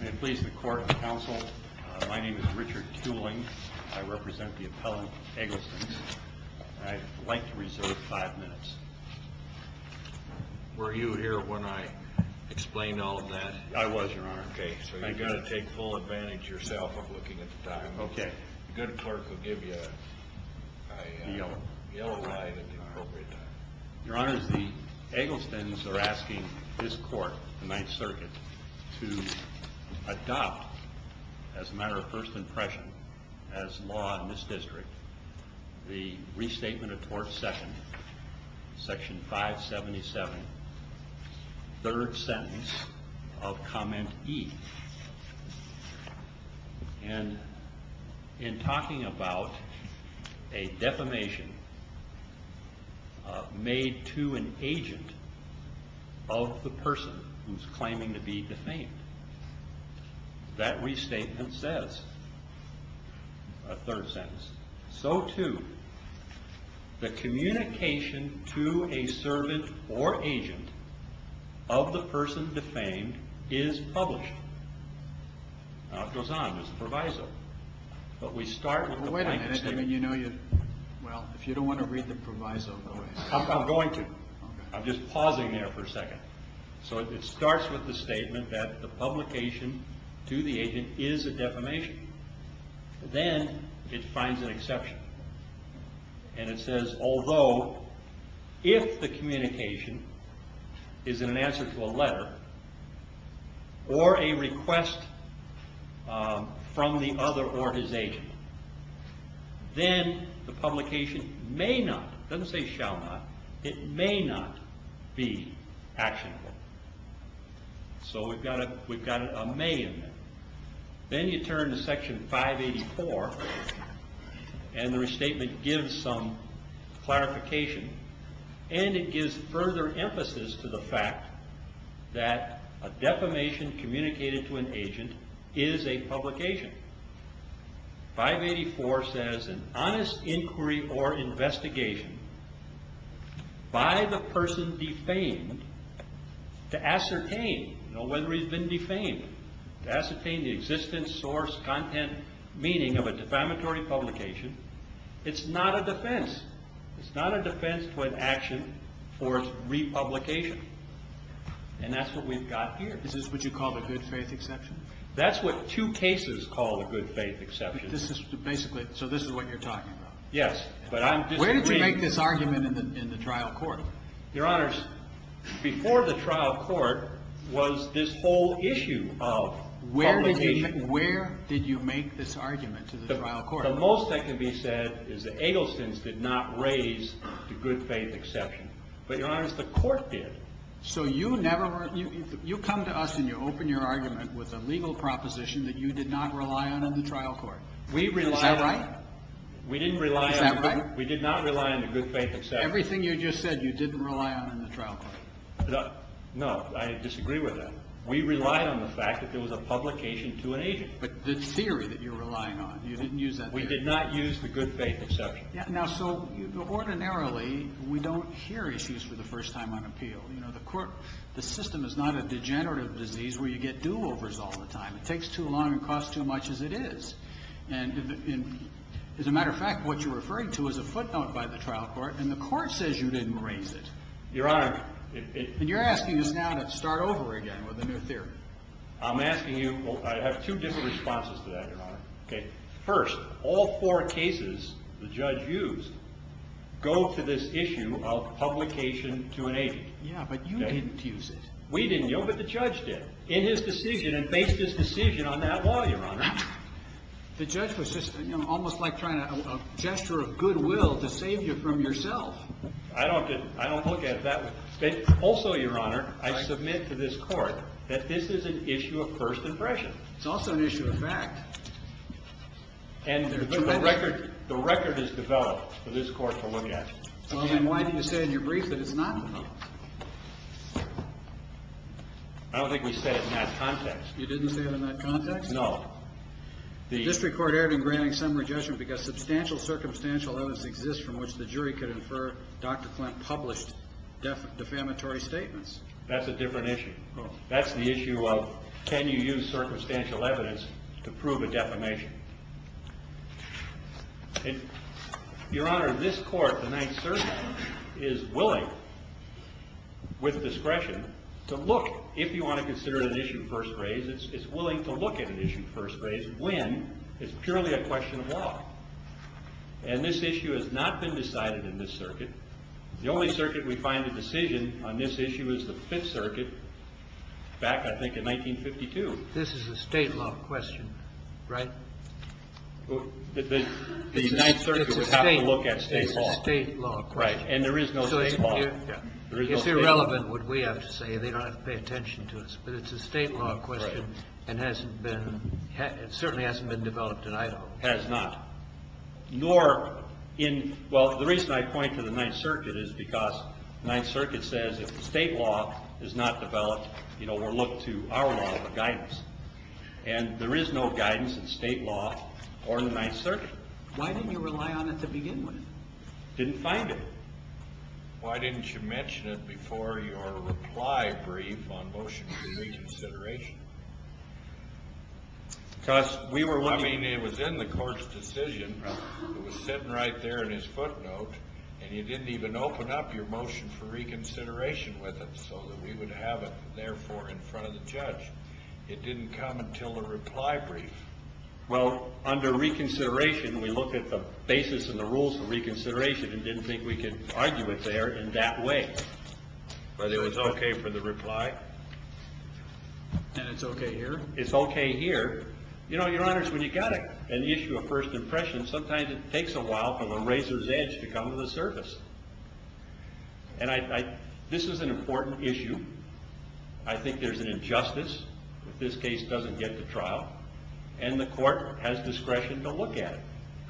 May it please the court and counsel, my name is Richard Tewling. I represent the appellant, Egglestons. I'd like to reserve five minutes. Were you here when I explained all of that? I was, Your Honor. Okay, so you've got to take full advantage yourself of looking at the time. Okay. The good clerk will give you a yellow ride at the appropriate time. Your Honor, the Egglestons are asking this court, the Ninth Circuit, to adopt, as a matter of first impression, as law in this district, the Restatement of Tort Second, Section 577, third sentence of Comment E. And in talking about a defamation made to an agent of the person who's claiming to be defamed, that restatement says, a third sentence, so too, the communication to a servant or agent of the person defamed is published. Now it goes on, there's a proviso. But we start with the plaintiff's statement. Well, if you don't want to read the proviso, go ahead. I'm going to. I'm just pausing there for a second. So it starts with the statement that the publication to the agent is a defamation. Then it finds an exception. And it says, although if the communication is an answer to a letter or a request from the other or his agent, then the publication may not, doesn't say shall not, it may not be actionable. So we've got a may in there. Then you turn to Section 584, and the restatement gives some clarification. And it gives further emphasis to the fact that a defamation communicated to an agent is a publication. Section 584 says, an honest inquiry or investigation by the person defamed to ascertain, you know, whether he's been defamed, to ascertain the existence, source, content, meaning of a defamatory publication. It's not a defense. It's not a defense to an action for republication. And that's what we've got here. Is this what you call the good faith exception? That's what two cases call the good faith exception. This is basically, so this is what you're talking about? Yes. But I'm disagreeing. Where did you make this argument in the trial court? Your Honors, before the trial court was this whole issue of publication. Where did you make this argument to the trial court? The most that can be said is the Egglestons did not raise the good faith exception. But, Your Honors, the court did. So you never, you come to us and you open your argument with a legal proposition that you did not rely on in the trial court. We relied on. Is that right? We didn't rely on. Is that right? We did not rely on the good faith exception. Everything you just said, you didn't rely on in the trial court. No, I disagree with that. We relied on the fact that there was a publication to an agent. But the theory that you're relying on, you didn't use that theory. We did not use the good faith exception. Now, so ordinarily, we don't hear issues for the first time on appeal. You know, the court, the system is not a degenerative disease where you get do-overs all the time. It takes too long and costs too much as it is. And as a matter of fact, what you're referring to is a footnote by the trial court, and the court says you didn't raise it. Your Honor. And you're asking us now to start over again with a new theory. I'm asking you, I have two different responses to that, Your Honor. First, all four cases the judge used go to this issue of publication to an agent. Yeah, but you didn't use it. We didn't use it, but the judge did in his decision and based his decision on that law, Your Honor. The judge was just almost like trying to gesture a goodwill to save you from yourself. I don't look at it that way. Also, Your Honor, I submit to this court that this is an issue of first impression. It's also an issue of fact. And the record is developed for this court to look at. Again, why didn't you say in your brief that it's not? I don't think we said it in that context. You didn't say it in that context? No. The district court erred in granting summary judgment because substantial circumstantial evidence exists from which the jury could infer Dr. Flint published defamatory statements. That's a different issue. That's the issue of can you use circumstantial evidence to prove a defamation? Your Honor, this court, the Ninth Circuit, is willing, with discretion, to look, if you want to consider it an issue of first graze, it's willing to look at an issue of first graze when it's purely a question of law. And this issue has not been decided in this circuit. The only circuit we find a decision on this issue is the Fifth Circuit back, I think, in 1952. This is a state law question, right? The Ninth Circuit would have to look at state law. It's a state law question. Right. And there is no state law. It's irrelevant what we have to say. They don't have to pay attention to us. But it's a state law question and certainly hasn't been developed in Idaho. Has not. Nor in, well, the reason I point to the Ninth Circuit is because the Ninth Circuit says if the state law is not developed, you know, we'll look to our law for guidance. And there is no guidance in state law or in the Ninth Circuit. Why didn't you rely on it to begin with? Didn't find it. Why didn't you mention it before your reply brief on motion for reconsideration? Because we were looking. I mean, it was in the court's decision. It was sitting right there in his footnote. And you didn't even open up your motion for reconsideration with it so that we would have it, therefore, in front of the judge. It didn't come until the reply brief. Well, under reconsideration, we looked at the basis and the rules for reconsideration and didn't think we could argue it there in that way. But it was okay for the reply. And it's okay here? It's okay here. You know, Your Honors, when you've got an issue of first impression, sometimes it takes a while for the razor's edge to come to the surface. And this is an important issue. I think there's an injustice if this case doesn't get to trial. And the court has discretion to look at it,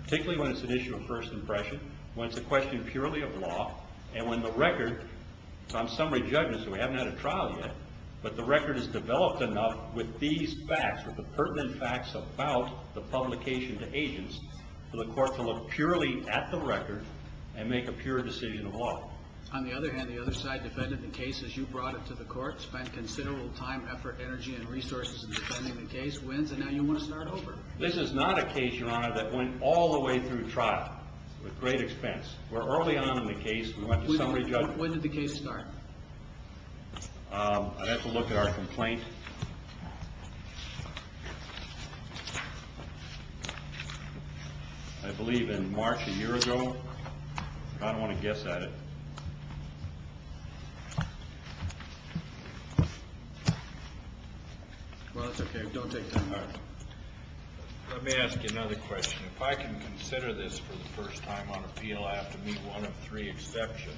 particularly when it's an issue of first impression, when it's a question purely of law, and when the record, on some of the judges who haven't had a trial yet, but the record is developed enough with these facts, with the pertinent facts about the publication to agents, for the court to look purely at the record and make a pure decision of law. On the other hand, the other side defended the case as you brought it to the court, spent considerable time, effort, energy, and resources in defending the case, wins, and now you want to start over. This is not a case, Your Honor, that went all the way through trial with great expense. We're early on in the case. When did the case start? I'd have to look at our complaint. I believe in March a year ago. I don't want to guess at it. Well, that's okay. Don't take that part. Let me ask you another question. If I can consider this for the first time on appeal, I have to meet one of three exceptions.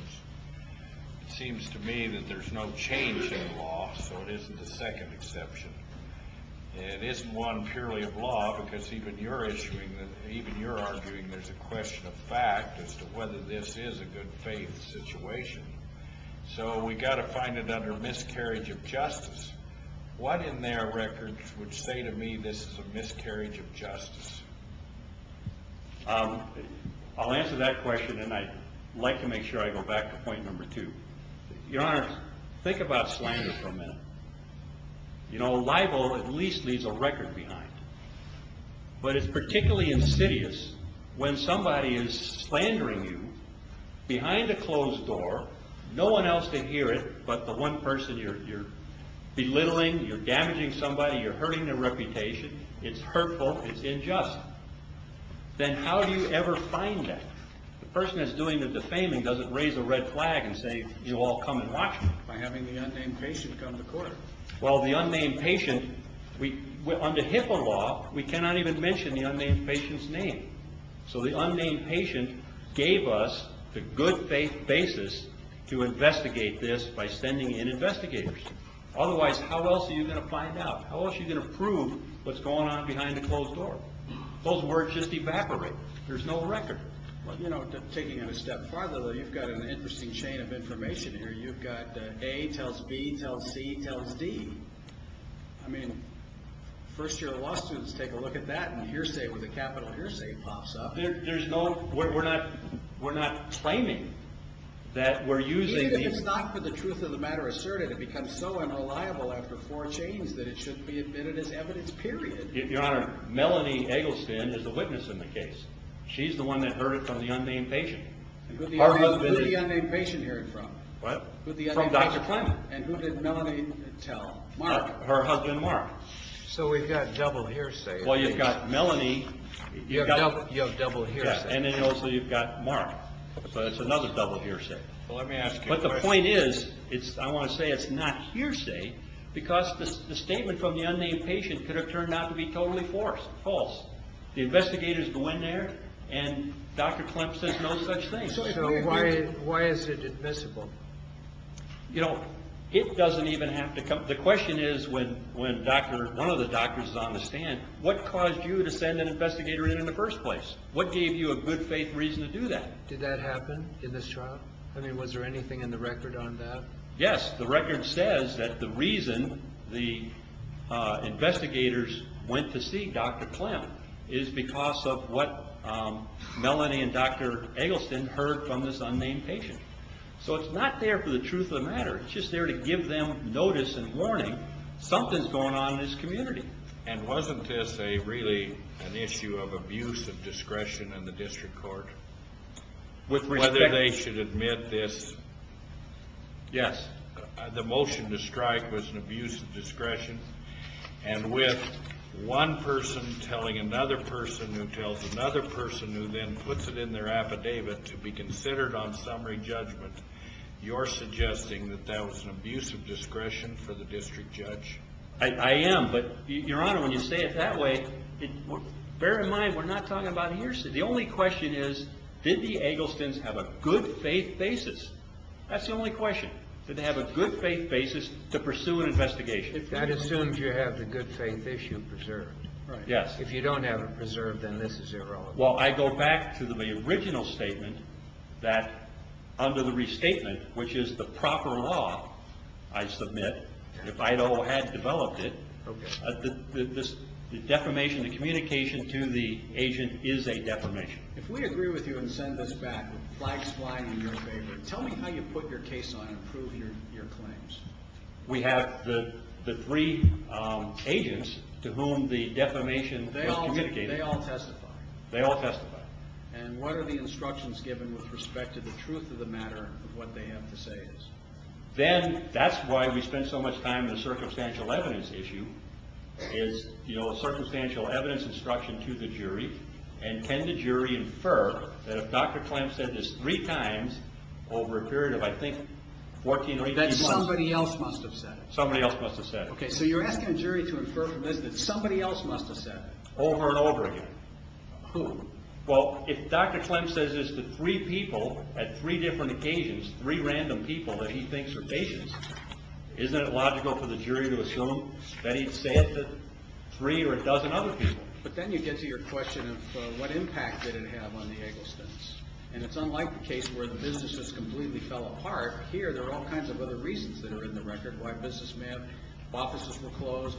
It seems to me that there's no change in the law, so it isn't a second exception. It isn't one purely of law, because even you're arguing there's a question of fact as to whether this is a good faith situation. So we've got to find it under miscarriage of justice. What in their records would say to me this is a miscarriage of justice? I'll answer that question, and I'd like to make sure I go back to point number two. Your Honor, think about slander for a minute. You know, libel at least leaves a record behind, but it's particularly insidious when somebody is slandering you behind a closed door, no one else can hear it but the one person you're belittling, you're damaging somebody, you're hurting their reputation. It's hurtful. It's unjust. Then how do you ever find that? The person that's doing the defaming doesn't raise a red flag and say you all come and watch me. By having the unnamed patient come to court. Well, the unnamed patient, under HIPAA law, we cannot even mention the unnamed patient's name. So the unnamed patient gave us the good faith basis to investigate this by sending in investigators. Otherwise, how else are you going to find out? How else are you going to prove what's going on behind a closed door? Those words just evaporate. There's no record. Well, you know, taking it a step farther, you've got an interesting chain of information here. You've got A tells B tells C tells D. I mean, first year law students take a look at that and hearsay with a capital hearsay pops up. There's no, we're not claiming that we're using. Even if it's not for the truth of the matter asserted, it becomes so unreliable after four chains that it should be admitted as evidence, period. Your Honor, Melanie Eggleston is the witness in the case. She's the one that heard it from the unnamed patient. Who did the unnamed patient hear it from? What? From Dr. Clement. And who did Melanie tell? Mark. Her husband, Mark. So we've got double hearsay. Well, you've got Melanie. You have double hearsay. And then also you've got Mark. So it's another double hearsay. Well, let me ask you a question. But the point is, I want to say it's not hearsay because the statement from the unnamed patient could have turned out to be totally false. The investigators go in there and Dr. Clement says no such thing. So why is it admissible? You know, it doesn't even have to come. The question is when one of the doctors is on the stand, what caused you to send an investigator in in the first place? What gave you a good faith reason to do that? Did that happen in this trial? I mean, was there anything in the record on that? Yes. The record says that the reason the investigators went to see Dr. Clement is because of what Melanie and Dr. Eggleston heard from this unnamed patient. So it's not there for the truth of the matter. It's just there to give them notice and warning. Something's going on in this community. And wasn't this really an issue of abuse of discretion in the district court, whether they should admit this? Yes. The motion to strike was an abuse of discretion. And with one person telling another person who tells another person who then puts it in their affidavit to be considered on summary judgment, you're suggesting that that was an abuse of discretion for the district judge? I am. But, Your Honor, when you say it that way, bear in mind we're not talking about hearsay. The only question is did the Egglestons have a good faith basis? That's the only question. Did they have a good faith basis to pursue an investigation? That assumes you have the good faith issue preserved. Yes. If you don't have it preserved, then this is irrelevant. Well, I go back to the original statement that under the restatement, which is the proper law, I submit, if Idaho had developed it, the defamation, the communication to the agent is a defamation. If we agree with you and send this back with flags flying in your favor, tell me how you put your case on and prove your claims. We have the three agents to whom the defamation was communicated. They all testify. They all testify. And what are the instructions given with respect to the truth of the matter of what they have to say is? Then that's why we spend so much time in the circumstantial evidence issue is, you know, circumstantial evidence instruction to the jury, and can the jury infer that if Dr. Klem said this three times over a period of, I think, 14 or 18 months Somebody else must have said it. Somebody else must have said it. Okay, so you're asking a jury to infer from this that somebody else must have said it. Over and over again. Who? Well, if Dr. Klem says this to three people at three different occasions, three random people that he thinks are patients, isn't it logical for the jury to assume that he'd say it to three or a dozen other people? But then you get to your question of what impact did it have on the Egglestons. And it's unlike the case where the business just completely fell apart. Here, there are all kinds of other reasons that are in the record. Why business may have, offices were closed.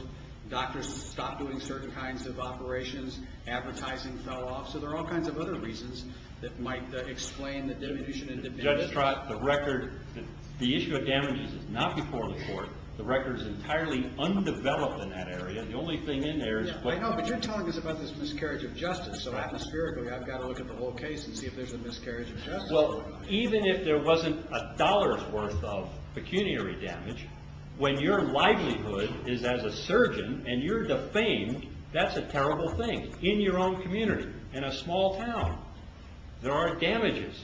Doctors stopped doing certain kinds of operations. Advertising fell off. So there are all kinds of other reasons that might explain the diminution in the business. Judge Trott, the record, the issue of damages is not before the court. The record is entirely undeveloped in that area. I know, but you're telling us about this miscarriage of justice. So, atmospherically, I've got to look at the whole case and see if there's a miscarriage of justice. Well, even if there wasn't a dollar's worth of pecuniary damage, when your livelihood is as a surgeon and you're defamed, that's a terrible thing. In your own community, in a small town, there are damages.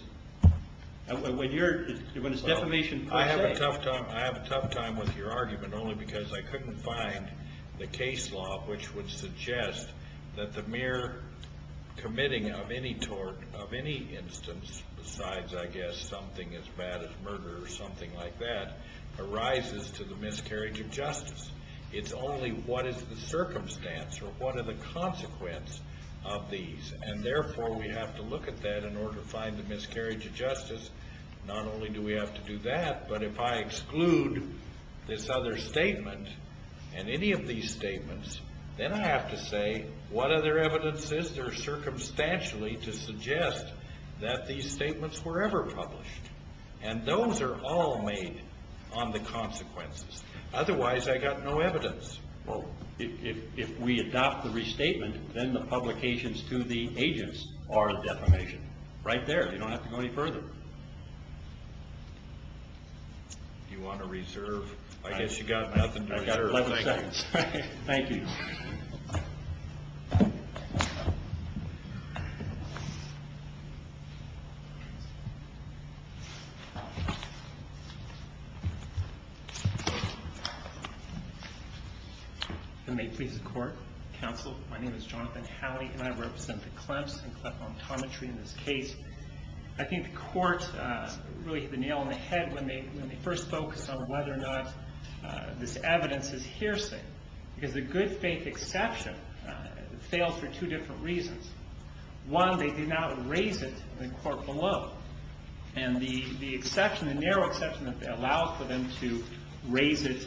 When it's defamation per se. I have a tough time with your argument only because I couldn't find the case law which would suggest that the mere committing of any instance, besides, I guess, something as bad as murder or something like that, arises to the miscarriage of justice. It's only what is the circumstance or what are the consequence of these. Therefore, we have to look at that in order to find the miscarriage of justice. Not only do we have to do that, but if I exclude this other statement and any of these statements, then I have to say what other evidence is there circumstantially to suggest that these statements were ever published. Those are all made on the consequences. Otherwise, I've got no evidence. Well, if we adopt the restatement, then the publications to the agents are defamation. Right there. You don't have to go any further. You want to reserve? I guess you got nothing to reserve. I've got 11 seconds. Thank you. May it please the court, counsel. My name is Jonathan Howley and I represent the Clemson Cleft Montometry in this case. I think the court really hit the nail on the head when they first focused on whether or not this evidence is hearsay. Because the good faith exception fails for two different reasons. One, they did not raise it in the court below. And the exception, the narrow exception that allows for them to raise it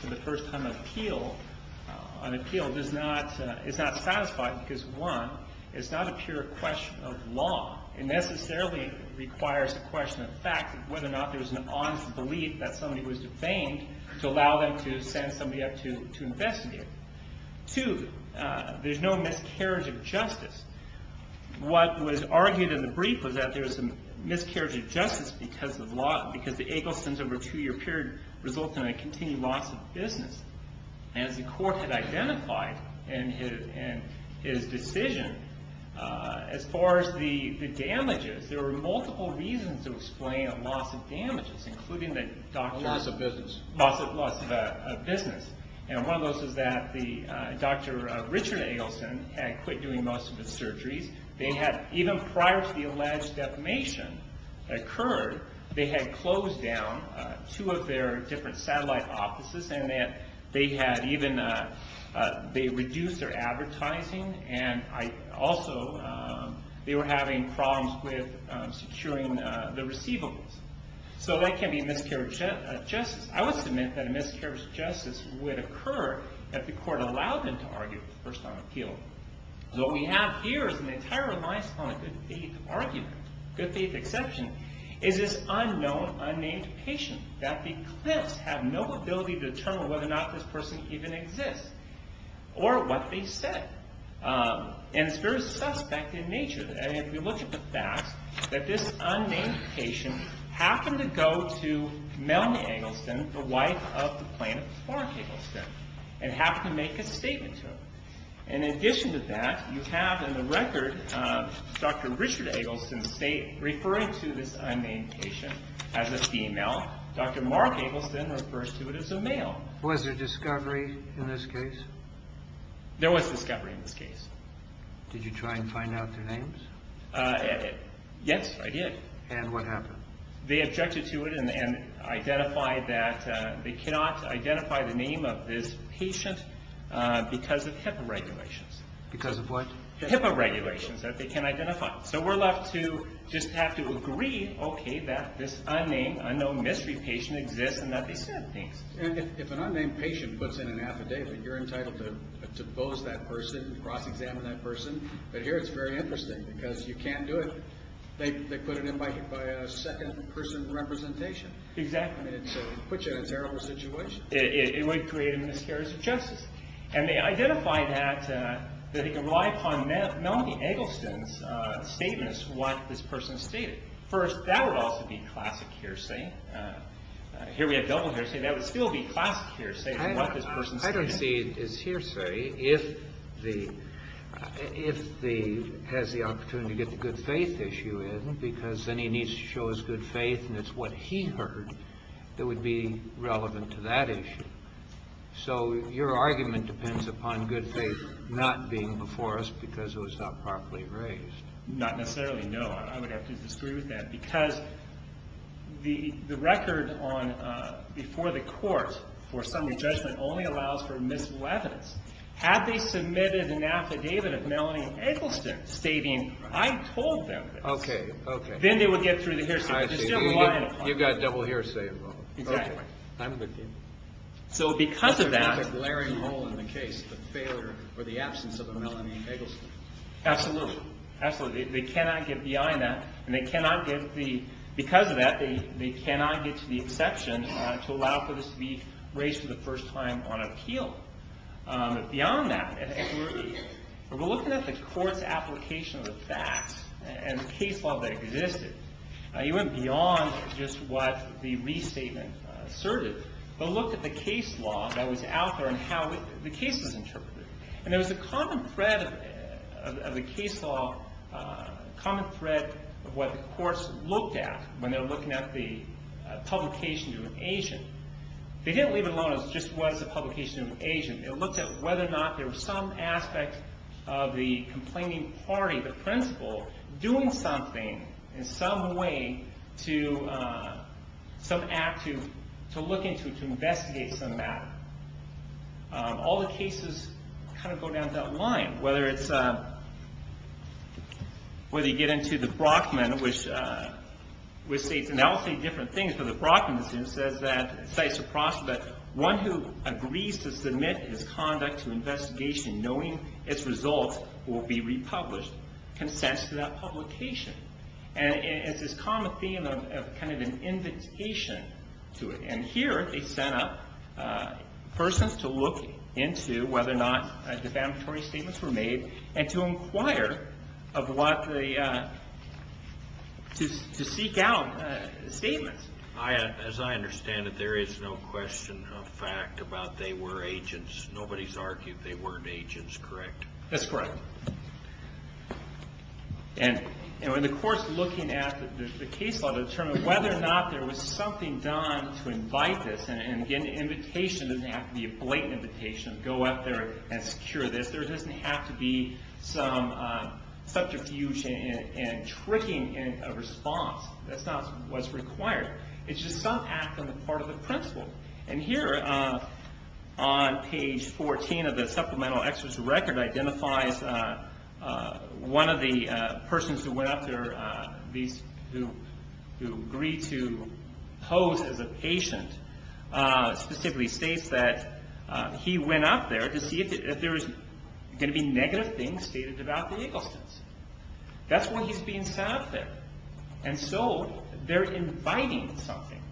for the first time on appeal is not satisfied because, one, it's not a pure question of law. It necessarily requires a question of fact, whether or not there's an honest belief that somebody was defamed to allow them to send somebody up to investigate. Two, there's no miscarriage of justice. What was argued in the brief was that there's a miscarriage of justice because the Egglestons over a two-year period result in a continued loss of business. As the court had identified in his decision, as far as the damages, there were multiple reasons to explain a loss of damages, including the doctor. A loss of business. A loss of business. One of those is that Dr. Richard Eggleston had quit doing most of his surgeries. They had, even prior to the alleged defamation that occurred, they had closed down two of their different satellite offices. They reduced their advertising. Also, they were having problems with securing the receivables. That can be miscarriage of justice. I would submit that a miscarriage of justice would occur if the court allowed them to argue first on appeal. What we have here is an entire reliance on a good faith argument, good faith exception. It's this unknown, unnamed patient that the clients have no ability to determine whether or not this person even exists or what they said. It's very suspect in nature. If you look at the facts, that this unnamed patient happened to go to Melanie Eggleston, the wife of the plaintiff, Mark Eggleston, and happened to make a statement to her. In addition to that, you have in the record Dr. Richard Eggleston referring to this unnamed patient as a female. Dr. Mark Eggleston refers to it as a male. Was there discovery in this case? There was discovery in this case. Did you try and find out their names? Yes, I did. What happened? They objected to it and identified that they cannot identify the name of this patient because of HIPAA regulations. Because of what? HIPAA regulations that they can't identify. We're left to just have to agree that this unnamed, unknown mystery patient exists and that they said things. If an unnamed patient puts in an affidavit, you're entitled to pose that person, cross-examine that person, but here it's very interesting because you can't do it. They put it in by a second person representation. Exactly. It puts you in a terrible situation. It would create a miscarriage of justice. They identified that they could rely upon Melanie Eggleston's statements, what this person stated. First, that would also be classic hearsay. Here we have double hearsay. That would still be classic hearsay, what this person said. I don't see it as hearsay if he has the opportunity to get the good faith issue in because then he needs to show his good faith and it's what he heard that would be relevant to that issue. So your argument depends upon good faith not being before us because it was not properly raised. Not necessarily, no. I would have to disagree with that because the record before the court for summary judgment only allows for misleadance. Had they submitted an affidavit of Melanie Eggleston stating, I told them this, then they would get through the hearsay. You've got double hearsay involved. Exactly. I'm with you. So because of that. There's a glaring hole in the case, the failure or the absence of a Melanie Eggleston. Absolutely. Absolutely. They cannot get behind that. And because of that, they cannot get to the exception to allow for this to be raised for the first time on appeal. Beyond that, we're looking at the court's application of the facts and the case law that existed. You went beyond just what the restatement asserted. But look at the case law that was out there and how the case was interpreted. And there was a common thread of the case law, a common thread of what the courts looked at when they were looking at the publication to an agent. They didn't leave it alone as just what's the publication to an agent. It looked at whether or not there was some aspect of the complaining party, the principal, doing something in some way to some act to look into, to investigate some matter. All the cases kind of go down that line. Whether it's, whether you get into the Brockman, which states, and I'll say different things, but the Brockman decision says that one who agrees to submit his conduct to investigation, knowing its results, will be republished, consents to that publication. And it's this common theme of kind of an invitation to it. And here they sent up persons to look into whether or not defamatory statements were made and to inquire of what the, to seek out statements. As I understand it, there is no question of fact about they were agents. Nobody's argued they weren't agents, correct? That's correct. And when the court's looking at the case law to determine whether or not there was something done to invite this. And again, the invitation doesn't have to be a blatant invitation to go out there and secure this. There doesn't have to be some subterfuge and tricking in a response. That's not what's required. It's just some act on the part of the principal. And here on page 14 of the supplemental experts record identifies one of the persons who went up there, who agreed to pose as a patient, specifically states that he went up there to see if there was going to be negative things stated about the Eaglestons. That's why he's being sent up there. And so they're inviting something.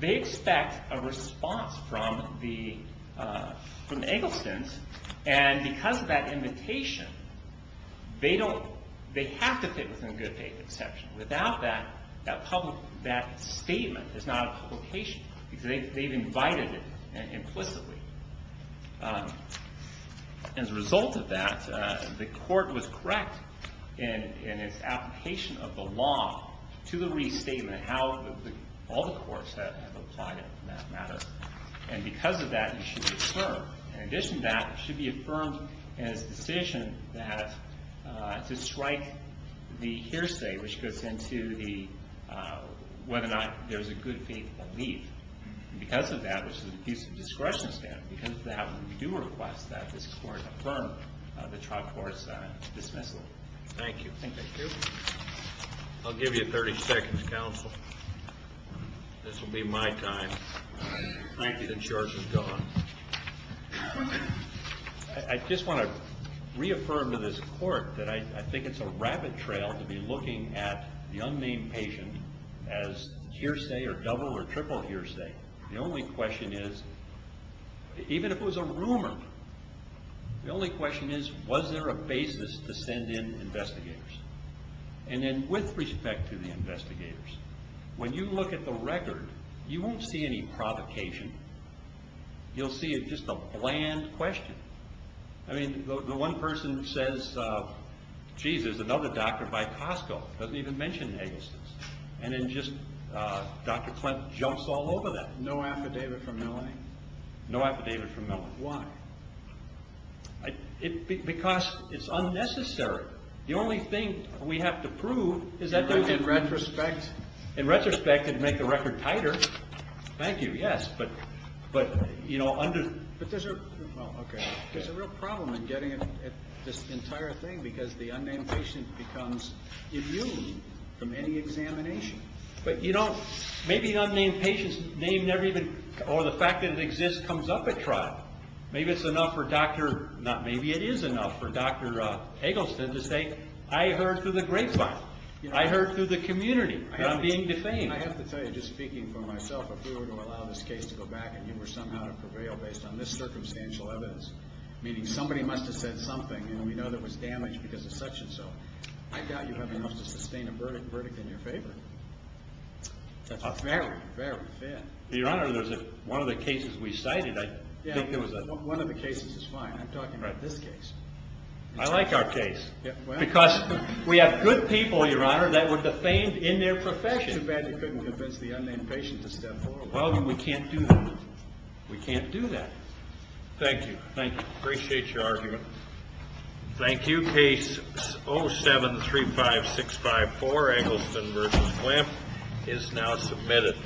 They expect a response from the Eaglestons. And because of that invitation, they don't, they have to fit within good faith exception. Without that, that public, that statement is not a publication because they've invited it implicitly. As a result of that, the court was correct in its application of the law to the restatement and how all the courts have applied it in that matter. And because of that, it should be affirmed. In addition to that, it should be affirmed in its decision to strike the hearsay, which goes into whether or not there's a good faith belief. Because of that, which is a piece of discretionary stand, because of that, we do request that this court affirm the trial court's dismissal. Thank you. Thank you. I'll give you 30 seconds, counsel. This will be my time. Thank you. The charge is gone. I just want to reaffirm to this court that I think it's a rapid trail to be looking at the unnamed patient as hearsay or double or triple hearsay. The only question is, even if it was a rumor, the only question is, was there a basis to send in investigators? And then with respect to the investigators, when you look at the record, you won't see any provocation. You'll see just a bland question. I mean, the one person says, geez, there's another doctor by Costco. It doesn't even mention Hagel's. And then just Dr. Clint jumps all over that. No affidavit from LA? No affidavit from LA. Why? Because it's unnecessary. The only thing we have to prove is that there's a retrospect. In retrospect, it'd make the record tighter. Thank you. Yes. But, you know, there's a real problem in getting at this entire thing because the unnamed patient becomes immune from any examination. But, you know, maybe the unnamed patient's name never even or the fact that it exists comes up at trial. Maybe it's enough for Dr. – maybe it is enough for Dr. Hagelstein to say, I heard through the grapevine. I heard through the community that I'm being defamed. I have to tell you, just speaking for myself, if we were to allow this case to go back and you were somehow to prevail based on this circumstantial evidence, meaning somebody must have said something and we know there was damage because of such and so, I doubt you have enough to sustain a verdict in your favor. A fair one. A fair one. Your Honor, there's a – one of the cases we cited, I think there was a – Yeah, one of the cases is fine. I'm talking about this case. I like our case because we have good people, Your Honor, that were defamed in their profession. Too bad you couldn't convince the unnamed patient to step forward. Well, we can't do that. We can't do that. Thank you. Thank you. Appreciate your argument. Thank you. Case 0735654, Hagelstein versus Glymph, is now submitted.